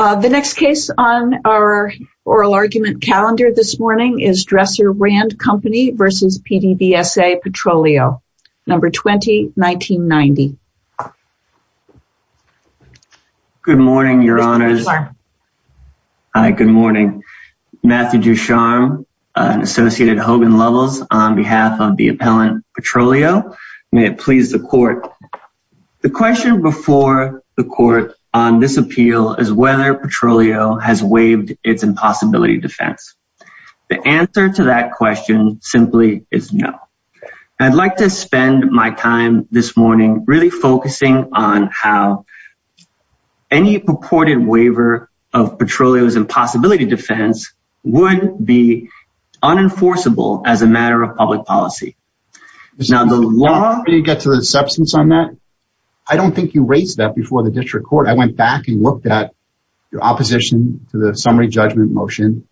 The next case on our oral argument calendar this morning is Dresser-Rand Company v. PDVSA Petroleo, S.A. Number 20-1990. Good morning, Your Honors. Hi, good morning. Matthew Ducharme, Associated Hogan Levels, on behalf of the Appellant Petroleo. May it please the Court. The question before the Court on this appeal is whether Petroleo has waived its impossibility defense. The answer to that question simply is no. I'd like to spend my time this morning really focusing on how any purported waiver of Petroleo's impossibility defense would be unenforceable as a matter of public policy. Now, the long way to get to the substance on that, I don't think you raised that before the District Court. I went back and looked at your opposition to the summary judgment motion.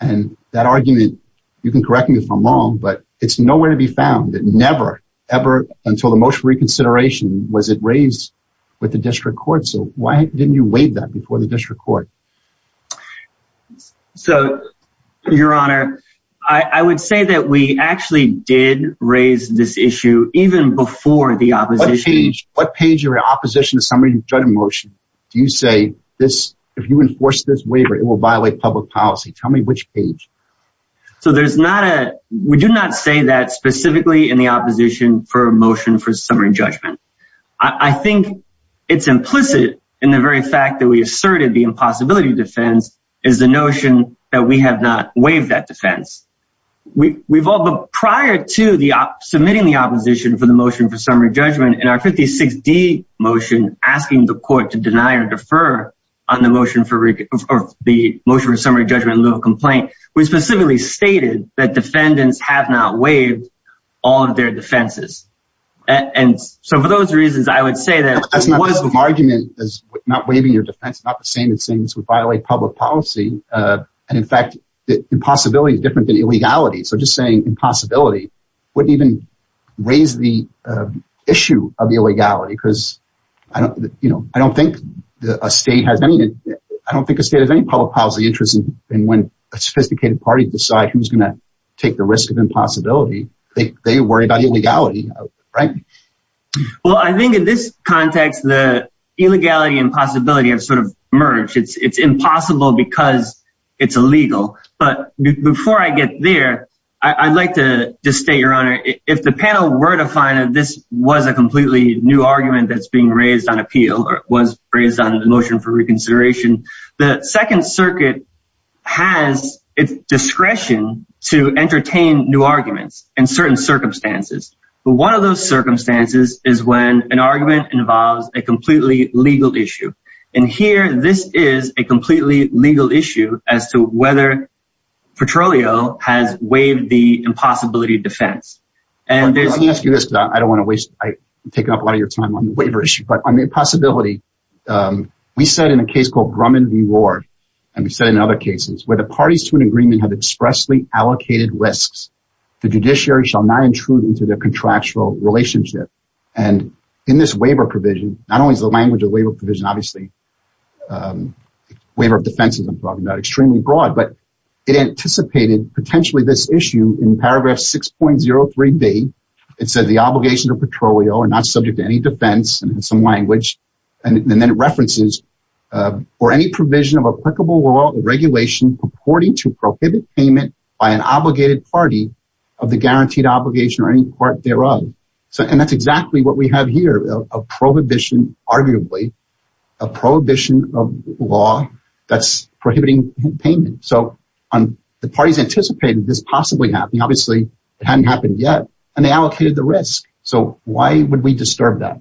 And that argument, you can correct me if I'm wrong, but it's nowhere to be found that never, ever until the motion for reconsideration was it raised with the District Court. So why didn't you waive that before the District Court? So, Your Honor, I would say that we actually did raise this issue even before the opposition. What page of your opposition to the summary judgment motion do you say, if you enforce this waiver, it will violate public policy? Tell me which page. So there's not a, we do not say that specifically in the opposition for a motion for summary judgment. I think it's implicit in the very fact that we asserted the impossibility defense is the notion that we have not waived that defense. We've all, but prior to the submitting the opposition for the motion for summary judgment in our 56D motion, asking the court to deny or defer on the motion for the motion for summary judgment in lieu of complaint. We specifically stated that defendants have not waived all of their defenses. And so for those reasons, I would say that. It was the argument is not waiving your defense, not the same as saying this would violate public policy. And in fact, the impossibility is different than illegality. So just saying impossibility wouldn't even raise the issue of illegality because I don't, you know, I don't think a state has anything. I don't think a state of any public policy interest in when a sophisticated party decide who's going to take the risk of impossibility. They worry about illegality. Right. Well, I think in this context, the illegality and possibility of sort of merge. It's impossible because it's illegal. But before I get there, I'd like to state, Your Honor, if the panel were to find that this was a completely new argument that's being raised on appeal or was raised on the motion for reconsideration. The Second Circuit has its discretion to entertain new arguments in certain circumstances. But one of those circumstances is when an argument involves a completely legal issue. And here this is a completely legal issue as to whether Petroleum has waived the impossibility of defense. And let me ask you this because I don't want to waste – I'm taking up a lot of your time on the waiver issue. But on the impossibility, we said in a case called Grumman v. Ward, and we said in other cases, where the parties to an agreement have expressly allocated risks, the judiciary shall not intrude into their contractual relationship. And in this waiver provision, not only is the language of the waiver provision, obviously, waiver of defense is extremely broad. But it anticipated potentially this issue in paragraph 6.03b. It says the obligation to Petroleum are not subject to any defense in some language. And then it references for any provision of applicable law and regulation purporting to prohibit payment by an obligated party of the guaranteed obligation or any part thereof. And that's exactly what we have here, a prohibition arguably, a prohibition of law that's prohibiting payment. So the parties anticipated this possibly happening. Obviously, it hadn't happened yet, and they allocated the risk. So why would we disturb that?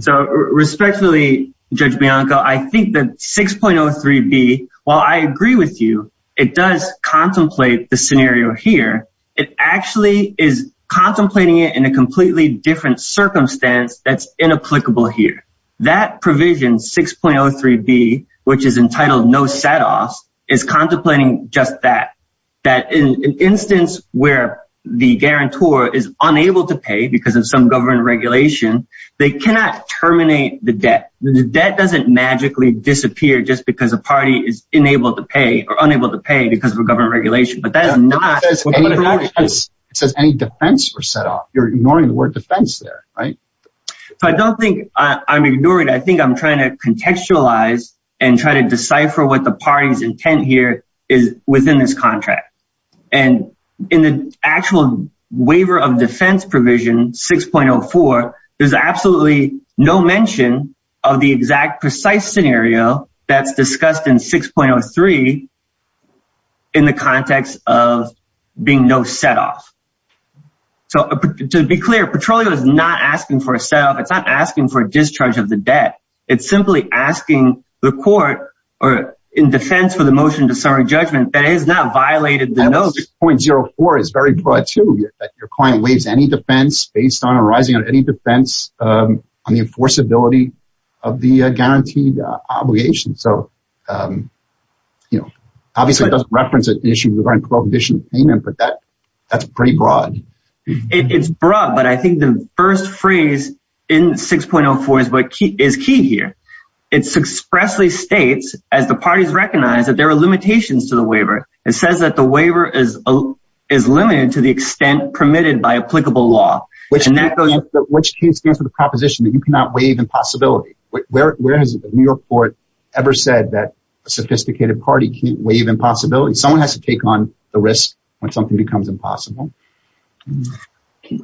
So respectfully, Judge Bianco, I think that 6.03b, while I agree with you, it does contemplate the scenario here. It actually is contemplating it in a completely different circumstance that's inapplicable here. That provision, 6.03b, which is entitled no setoffs, is contemplating just that, that in an instance where the guarantor is unable to pay because of some government regulation, they cannot terminate the debt. The debt doesn't magically disappear just because a party is unable to pay or unable to pay because of a government regulation. But that is not what I'm going to do. It says any defense or setoff. You're ignoring the word defense there, right? So I don't think I'm ignoring it. I think I'm trying to contextualize and try to decipher what the party's intent here is within this contract. And in the actual waiver of defense provision, 6.04, there's absolutely no mention of the exact precise scenario that's discussed in 6.03 in the context of being no setoff. So to be clear, Petrolio is not asking for a setoff. It's not asking for a discharge of the debt. It's simply asking the court in defense for the motion to summary judgment that it has not violated the notice. 6.04 is very broad, too. Your client waives any defense based on arising on any defense on the enforceability of the guaranteed obligation. Obviously, it doesn't reference an issue regarding prohibition of payment, but that's pretty broad. It's broad, but I think the first phrase in 6.04 is key here. It expressly states, as the parties recognize, that there are limitations to the waiver. It says that the waiver is limited to the extent permitted by applicable law. Which stands for the proposition that you cannot waive impossibility. Where has the New York court ever said that a sophisticated party can't waive impossibility? Someone has to take on the risk when something becomes impossible.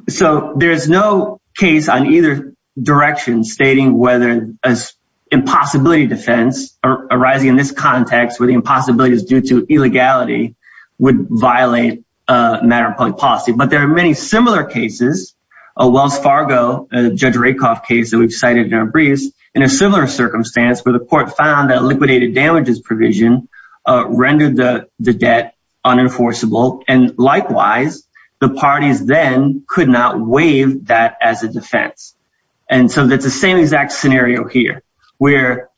So there's no case on either direction stating whether an impossibility defense arising in this context where the impossibility is due to illegality would violate a matter of public policy. But there are many similar cases. A Wells Fargo, Judge Rakoff case that we've cited in our briefs, in a similar circumstance where the court found that liquidated damages provision rendered the debt unenforceable. And likewise, the parties then could not waive that as a defense. And so that's the same exact scenario here where,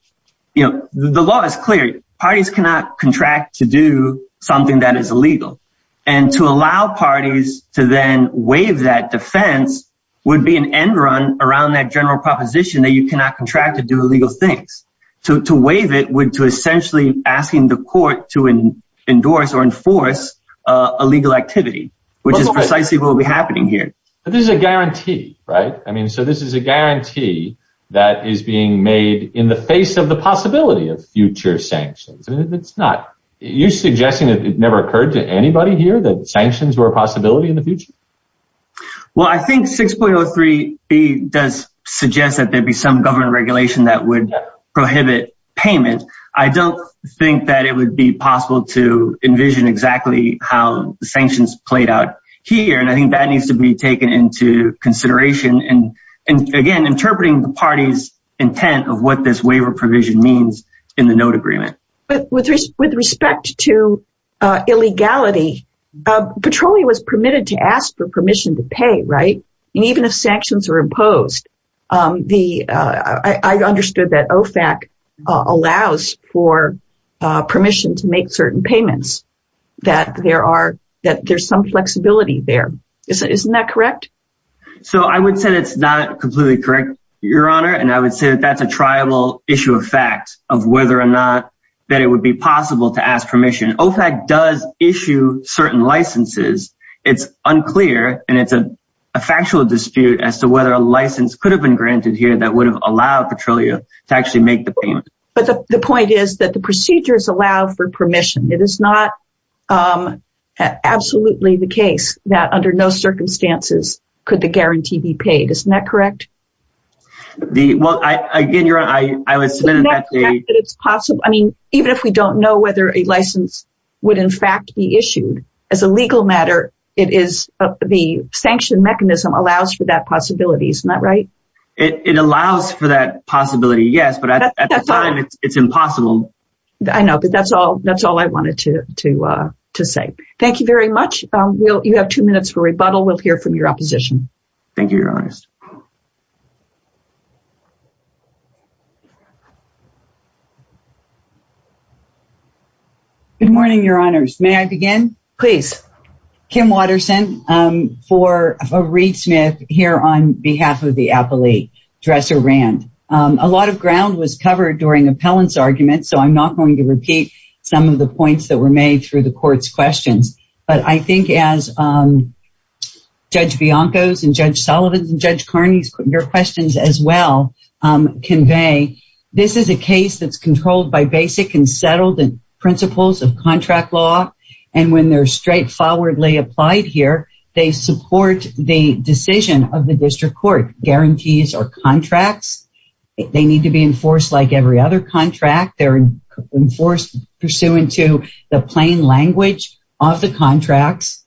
you know, the law is clear. Parties cannot contract to do something that is illegal. And to allow parties to then waive that defense would be an end run around that general proposition that you cannot contract to do illegal things. To waive it would to essentially asking the court to endorse or enforce illegal activity, which is precisely what will be happening here. This is a guarantee, right? I mean, so this is a guarantee that is being made in the face of the possibility of future sanctions. You're suggesting that it never occurred to anybody here that sanctions were a possibility in the future? Well, I think 6.03b does suggest that there'd be some government regulation that would prohibit payment. I don't think that it would be possible to envision exactly how the sanctions played out here. And I think that needs to be taken into consideration. And again, interpreting the party's intent of what this waiver provision means in the note agreement. With respect to illegality, Petroleum was permitted to ask for permission to pay, right? And even if sanctions are imposed, I understood that OFAC allows for permission to make certain payments, that there's some flexibility there. Isn't that correct? So I would say it's not completely correct, Your Honor. And I would say that that's a tribal issue of fact of whether or not that it would be possible to ask permission. OFAC does issue certain licenses. It's unclear. And it's a factual dispute as to whether a license could have been granted here that would have allowed Petroleum to actually make the payment. But the point is that the procedures allow for permission. It is not absolutely the case that under no circumstances could the guarantee be paid. Isn't that correct? Well, again, Your Honor, I was submitting that to you. I mean, even if we don't know whether a license would in fact be issued, as a legal matter, the sanction mechanism allows for that possibility. Isn't that right? It allows for that possibility, yes. But at the time, it's impossible. I know, but that's all I wanted to say. Thank you very much. You have two minutes for rebuttal. We'll hear from your opposition. Thank you, Your Honor. Good morning, Your Honors. May I begin? Please. Kim Watterson for Reed Smith here on behalf of the appellee, Dresser Rand. A lot of ground was covered during appellant's argument, so I'm not going to repeat some of the points that were made through the court's questions. But I think as Judge Bianco's and Judge Sullivan's and Judge Carney's questions as well convey, this is a case that's controlled by basic and settled principles of contract law. And when they're straightforwardly applied here, they support the decision of the district court. Guarantees are contracts. They need to be enforced like every other contract. They're enforced pursuant to the plain language of the contracts.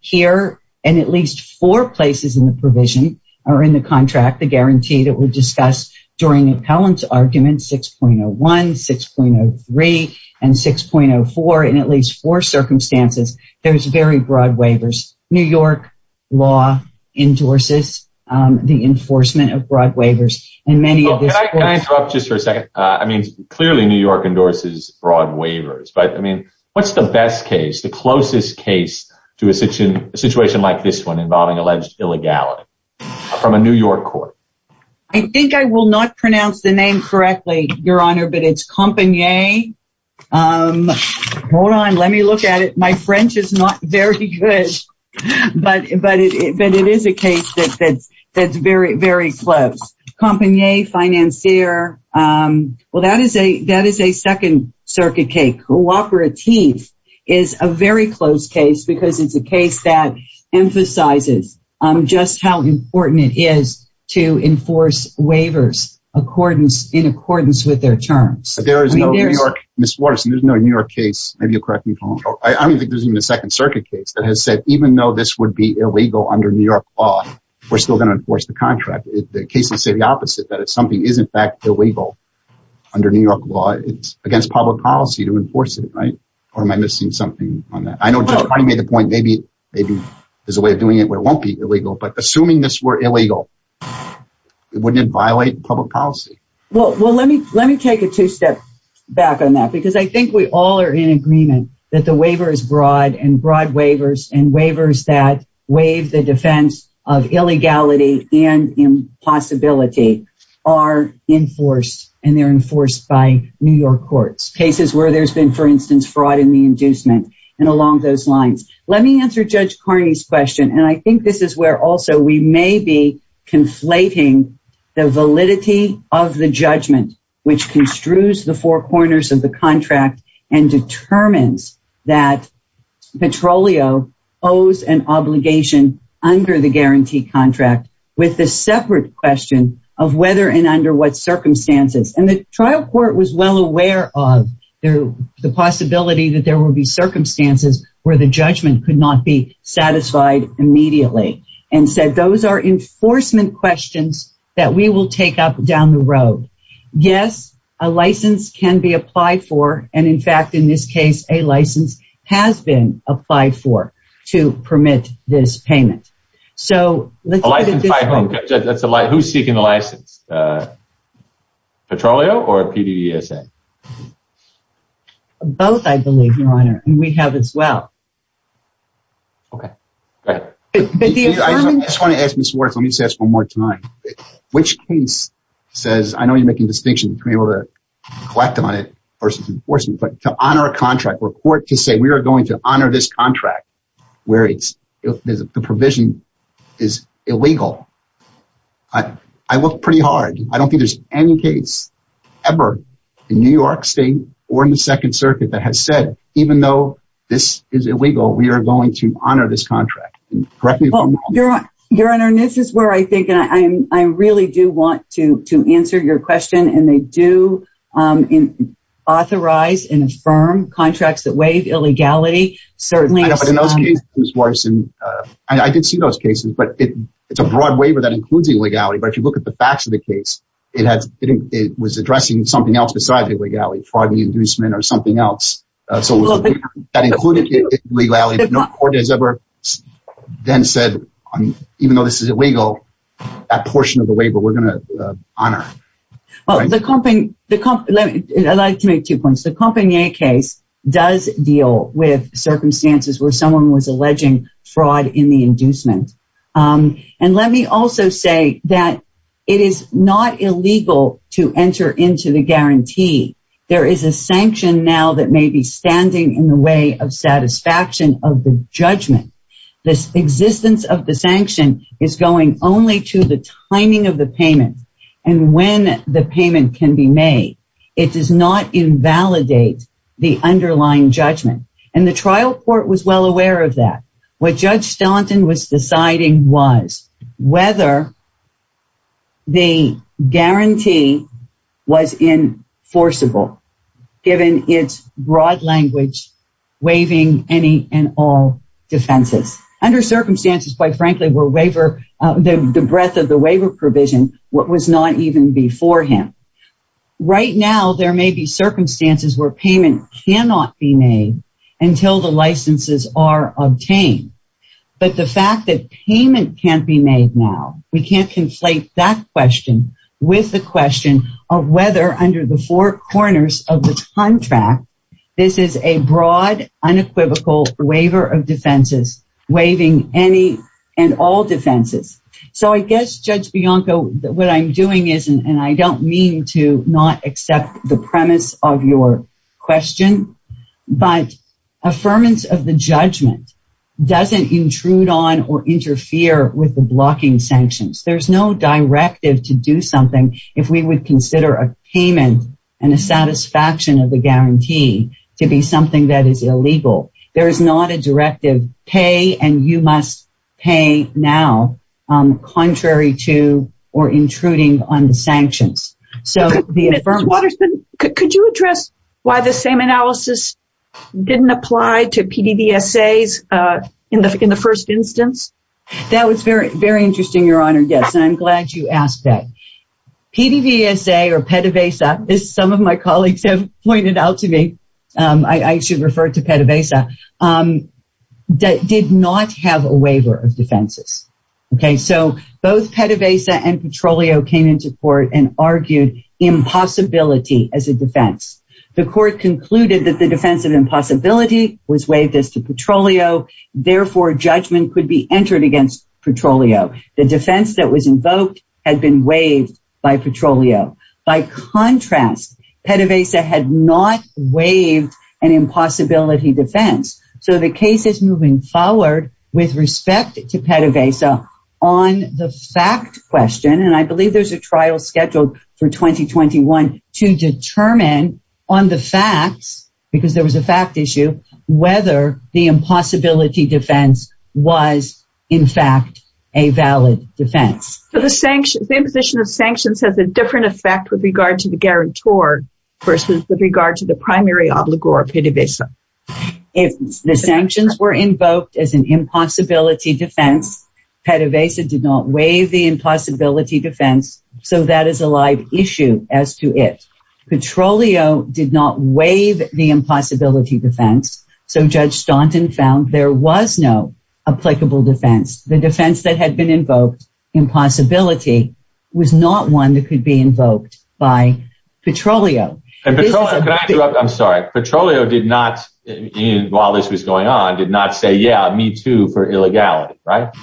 Here, in at least four places in the provision, or in the contract, the guarantee that we discussed during appellant's argument, 6.01, 6.03, and 6.04, in at least four circumstances, there's very broad waivers. New York law endorses the enforcement of broad waivers. And many of this— Can I interrupt just for a second? I mean, clearly New York endorses broad waivers. But, I mean, what's the best case, the closest case to a situation like this one involving alleged illegality from a New York court? I think I will not pronounce the name correctly, Your Honor, but it's Compagnier. Hold on. Let me look at it. My French is not very good. But it is a case that's very, very close. Compagnier, financier. Well, that is a Second Circuit case. Cooperatif is a very close case because it's a case that emphasizes just how important it is to enforce waivers in accordance with their terms. There is no New York— Ms. Waterson, there's no New York case—maybe you'll correct me if I'm wrong. I don't think there's even a Second Circuit case that has said, even though this would be illegal under New York law, we're still going to enforce the contract. The cases say the opposite, that something is, in fact, illegal under New York law. It's against public policy to enforce it, right? Or am I missing something on that? I know Judge Connie made the point maybe there's a way of doing it where it won't be illegal. But assuming this were illegal, wouldn't it violate public policy? Well, let me take a two-step back on that because I think we all are in agreement that the waiver is broad. And broad waivers and waivers that waive the defense of illegality and impossibility are enforced. And they're enforced by New York courts. Cases where there's been, for instance, fraud in the inducement and along those lines. Let me answer Judge Connie's question. And I think this is where also we may be conflating the validity of the judgment, which construes the four corners of the contract, and determines that Petrolio owes an obligation under the guarantee contract with the separate question of whether and under what circumstances. And the trial court was well aware of the possibility that there would be circumstances where the judgment could not be satisfied immediately. And said those are enforcement questions that we will take up down the road. Yes, a license can be applied for. And in fact, in this case, a license has been applied for to permit this payment. A license by whom? Who's seeking the license? Petrolio or PDESA? Both, I believe, Your Honor. And we have as well. Okay. Go ahead. I just want to ask Ms. Wurz, let me just ask one more time. Which case says, I know you're making a distinction between being able to collect them on it versus enforcement, but to honor a contract or court to say we are going to honor this contract where the provision is illegal. I look pretty hard. I don't think there's any case ever in New York State or in the Second Circuit that has said, even though this is illegal, we are going to honor this contract. Your Honor, this is where I think I really do want to answer your question. And they do authorize and affirm contracts that waive illegality. I did see those cases, but it's a broad waiver that includes illegality. But if you look at the facts of the case, it was addressing something else besides illegality, fraud and inducement or something else. So that included illegality, but no court has ever then said, even though this is illegal, that portion of the waiver we're going to honor. Well, I'd like to make two points. The Compagnie case does deal with circumstances where someone was alleging fraud in the inducement. And let me also say that it is not illegal to enter into the guarantee. There is a sanction now that may be standing in the way of satisfaction of the judgment. The existence of the sanction is going only to the timing of the payment and when the payment can be made. It does not invalidate the underlying judgment. And the trial court was well aware of that. What Judge Stellenton was deciding was whether the guarantee was enforceable, given its broad language waiving any and all defenses. Under circumstances, quite frankly, where the breadth of the waiver provision was not even before him. Right now, there may be circumstances where payment cannot be made until the licenses are obtained. But the fact that payment can't be made now, we can't conflate that question with the question of whether under the four corners of the contract, this is a broad, unequivocal waiver of defenses, waiving any and all defenses. So I guess, Judge Bianco, what I'm doing is, and I don't mean to not accept the premise of your question, but affirmance of the judgment doesn't intrude on or interfere with the blocking sanctions. There's no directive to do something if we would consider a payment and a satisfaction of the guarantee to be something that is illegal. There is not a directive, pay and you must pay now, contrary to or intruding on the sanctions. Ms. Waterston, could you address why the same analysis didn't apply to PDVSAs in the first instance? That was very interesting, Your Honor, yes, and I'm glad you asked that. PDVSA or PDVSA, as some of my colleagues have pointed out to me, I should refer to PDVSA, did not have a waiver of defenses. So both PDVSA and Petrolio came into court and argued impossibility as a defense. The court concluded that the defense of impossibility was waived as to Petrolio, therefore, judgment could be entered against Petrolio. The defense that was invoked had been waived by Petrolio. By contrast, PDVSA had not waived an impossibility defense. So the case is moving forward with respect to PDVSA on the fact question, and I believe there's a trial scheduled for 2021 to determine on the facts, because there was a fact issue, whether the impossibility defense was, in fact, a valid defense. So the imposition of sanctions has a different effect with regard to the guarantor versus with regard to the primary obligor, PDVSA. If the sanctions were invoked as an impossibility defense, PDVSA did not waive the impossibility defense, so that is a live issue as to it. Petrolio did not waive the impossibility defense, so Judge Staunton found there was no applicable defense. The defense that had been invoked, impossibility, was not one that could be invoked by Petrolio. And Petrolio, can I interrupt? I'm sorry. Petrolio did not, while this was going on, did not say, yeah, me too for illegality, right?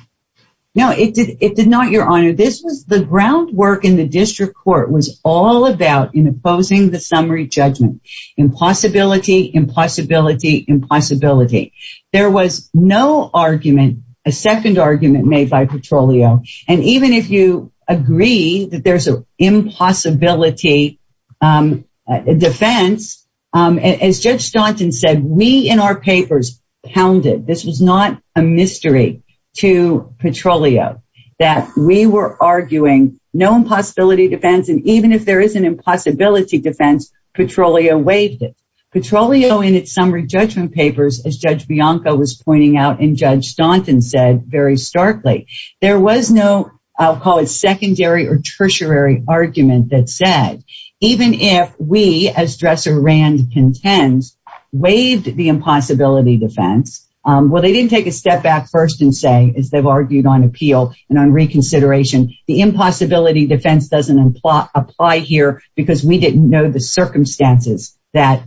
No, it did not, Your Honor. The groundwork in the district court was all about imposing the summary judgment. Impossibility, impossibility, impossibility. There was no argument, a second argument made by Petrolio. And even if you agree that there's an impossibility defense, as Judge Staunton said, we in our papers pounded, this was not a mystery to Petrolio, that we were arguing no impossibility defense, and even if there is an impossibility defense, Petrolio waived it. Petrolio in its summary judgment papers, as Judge Bianco was pointing out and Judge Staunton said very starkly, there was no, I'll call it secondary or tertiary argument that said, even if we, as Dresser Rand contends, waived the impossibility defense, well, they didn't take a step back first and say, as they've argued on appeal and on reconsideration, the impossibility defense doesn't apply here because we didn't know the circumstances that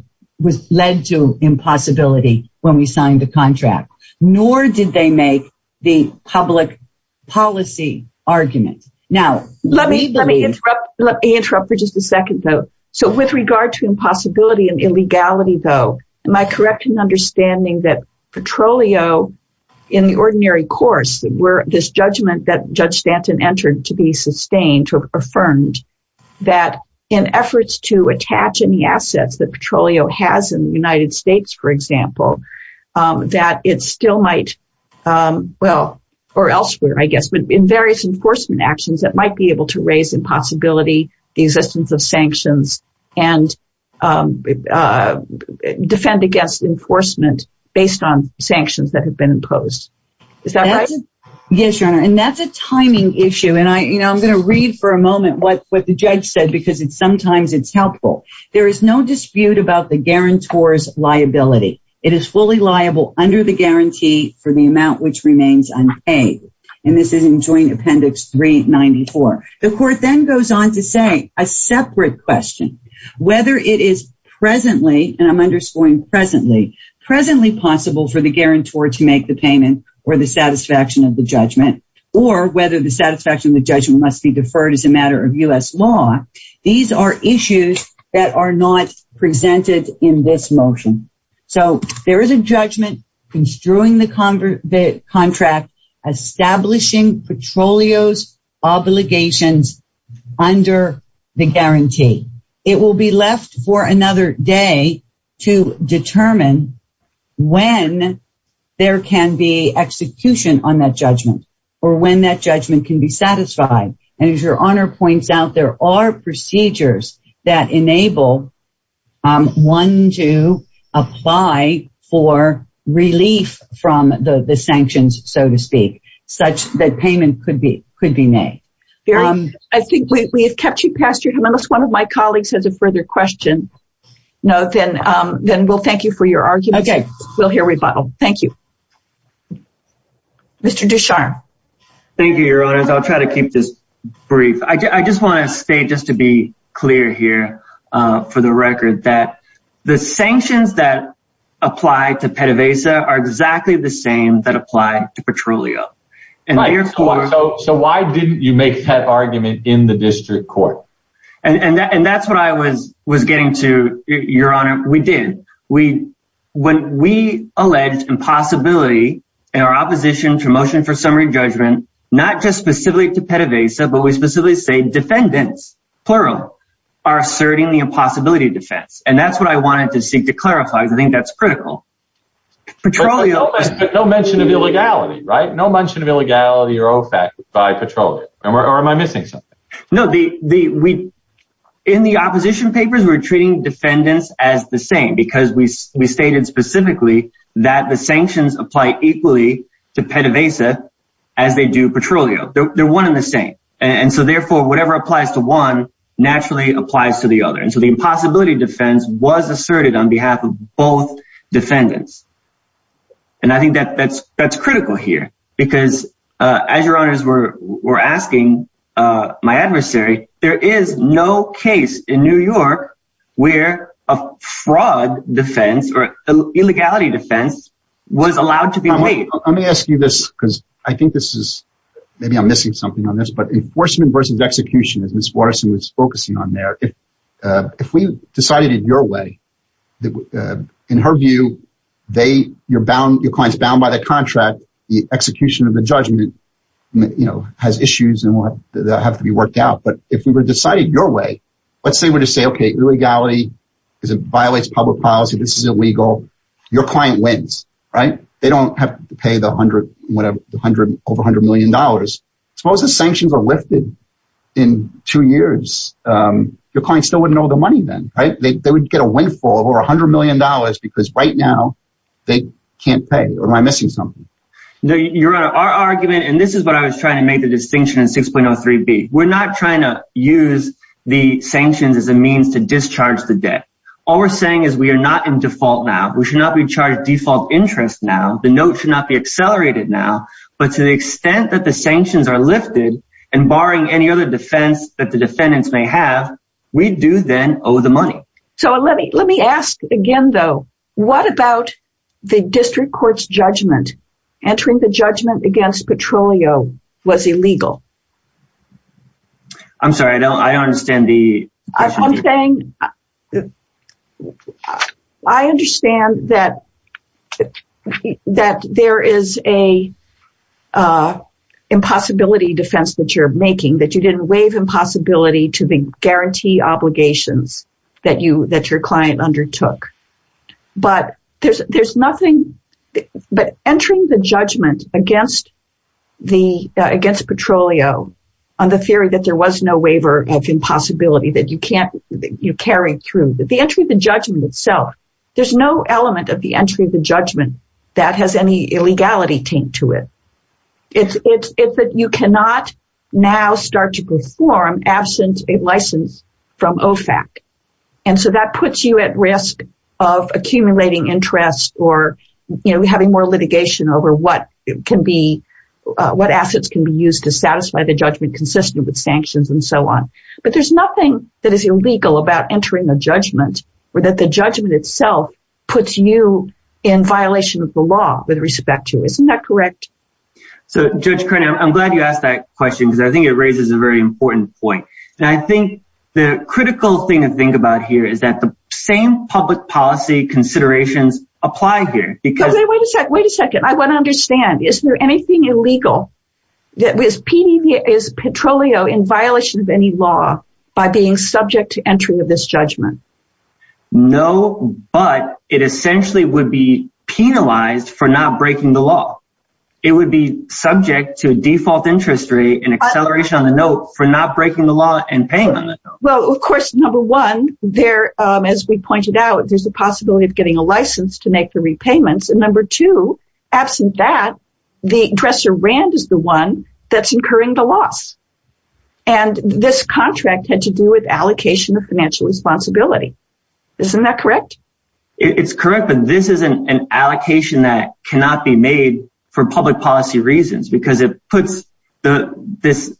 led to impossibility when we signed the contract. Nor did they make the public policy argument. Now, let me interrupt for just a second, though. So with regard to impossibility and illegality, though, am I correct in understanding that Petrolio, in the ordinary course, where this judgment that Judge Staunton entered to be sustained or affirmed, that in efforts to attach any assets that Petrolio has in the United States, for example, that it still might, well, or elsewhere, I guess, but in various enforcement actions that might be able to raise impossibility, the existence of sanctions, and defend against enforcement based on sanctions that have been imposed. Is that right? Yes, Your Honor, and that's a timing issue, and I'm going to read for a moment what the judge said because sometimes it's helpful. There is no dispute about the guarantor's liability. It is fully liable under the guarantee for the amount which remains unpaid, and this is in Joint Appendix 394. The court then goes on to say a separate question. Whether it is presently, and I'm underscoring presently, presently possible for the guarantor to make the payment or the satisfaction of the judgment, or whether the satisfaction of the judgment must be deferred as a matter of U.S. law, these are issues that are not presented in this motion. So, there is a judgment construing the contract establishing Petroleum's obligations under the guarantee. It will be left for another day to determine when there can be execution on that judgment, or when that judgment can be satisfied, and as Your Honor points out, there are procedures that enable one to apply for relief from the sanctions, so to speak, such that payment could be made. I think we have kept you past your time. Unless one of my colleagues has a further question, then we'll thank you for your argument. Okay. We'll hear rebuttal. Thank you. Mr. Ducharme. Thank you, Your Honors. I'll try to keep this brief. I just want to state just to be clear here, for the record, that the sanctions that apply to PETAVASA are exactly the same that apply to Petroleum. So, why didn't you make that argument in the district court? And that's what I was getting to, Your Honor. We did. When we alleged impossibility in our opposition to motion for summary judgment, not just specifically to PETAVASA, but we specifically say defendants, plural, are asserting the impossibility defense. And that's what I wanted to seek to clarify. I think that's critical. No mention of illegality, right? No mention of illegality or OFAC by Petroleum. Or am I missing something? No. In the opposition papers, we're treating defendants as the same, because we stated specifically that the sanctions apply equally to PETAVASA as they do Petroleum. They're one and the same. And so, therefore, whatever applies to one naturally applies to the other. And so the impossibility defense was asserted on behalf of both defendants. And I think that's critical here, because as Your Honors were asking my adversary, there is no case in New York where a fraud defense or illegality defense was allowed to be made. Let me ask you this, because I think this is – maybe I'm missing something on this, but enforcement versus execution, as Ms. Watterson was focusing on there, if we decided it your way, in her view, your client's bound by the contract, the execution of the judgment has issues and they'll have to be worked out. But if we were to decide it your way, let's say we were to say, okay, illegality violates public policy, this is illegal, your client wins, right? They don't have to pay the over $100 million. Suppose the sanctions are lifted in two years. Your client still wouldn't owe the money then, right? They would get a windfall of over $100 million, because right now they can't pay. Or am I missing something? Your Honor, our argument – and this is what I was trying to make the distinction in 6.03b. We're not trying to use the sanctions as a means to discharge the debt. All we're saying is we are not in default now. We should not be charged default interest now. The note should not be accelerated now. But to the extent that the sanctions are lifted and barring any other defense that the defendants may have, we do then owe the money. So let me ask again, though. What about the district court's judgment? Entering the judgment against Petrolio was illegal. I'm sorry, I don't understand the question. I'm saying I understand that there is an impossibility defense that you're making, that you didn't waive impossibility to guarantee obligations that your client undertook. But entering the judgment against Petrolio on the theory that there was no waiver of impossibility that you carried through, the entry of the judgment itself, there's no element of the entry of the judgment that has any illegality taint to it. It's that you cannot now start to perform absent a license from OFAC. And so that puts you at risk of accumulating interest or having more litigation over what assets can be used to satisfy the judgment consistent with sanctions and so on. But there's nothing that is illegal about entering the judgment or that the judgment itself puts you in violation of the law with respect to. Isn't that correct? So Judge Carney, I'm glad you asked that question because I think it raises a very important point. And I think the critical thing to think about here is that the same public policy considerations apply here. Wait a second. Wait a second. I want to understand. Is there anything illegal? Is Petrolio in violation of any law by being subject to entry of this judgment? No, but it essentially would be penalized for not breaking the law. It would be subject to a default interest rate and acceleration on the note for not breaking the law and payment. Well, of course, number one there, as we pointed out, there's a possibility of getting a license to make the repayments. And number two, absent that the dresser Rand is the one that's incurring the loss. And this contract had to do with allocation of financial responsibility. Isn't that correct? It's correct. But this is an allocation that cannot be made for public policy reasons because it puts this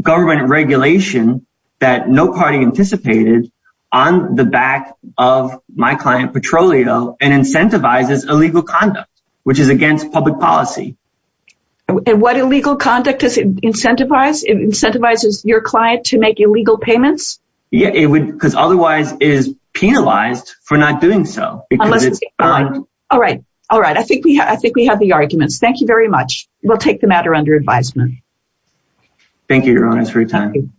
government regulation that no party anticipated on the back of my client Petrolio and incentivizes illegal conduct, which is against public policy. And what illegal conduct does it incentivize? It incentivizes your client to make illegal payments. Yeah, it would because otherwise is penalized for not doing so. All right. All right. All right. I think we I think we have the arguments. Thank you very much. We'll take the matter under advisement. Thank you for your time.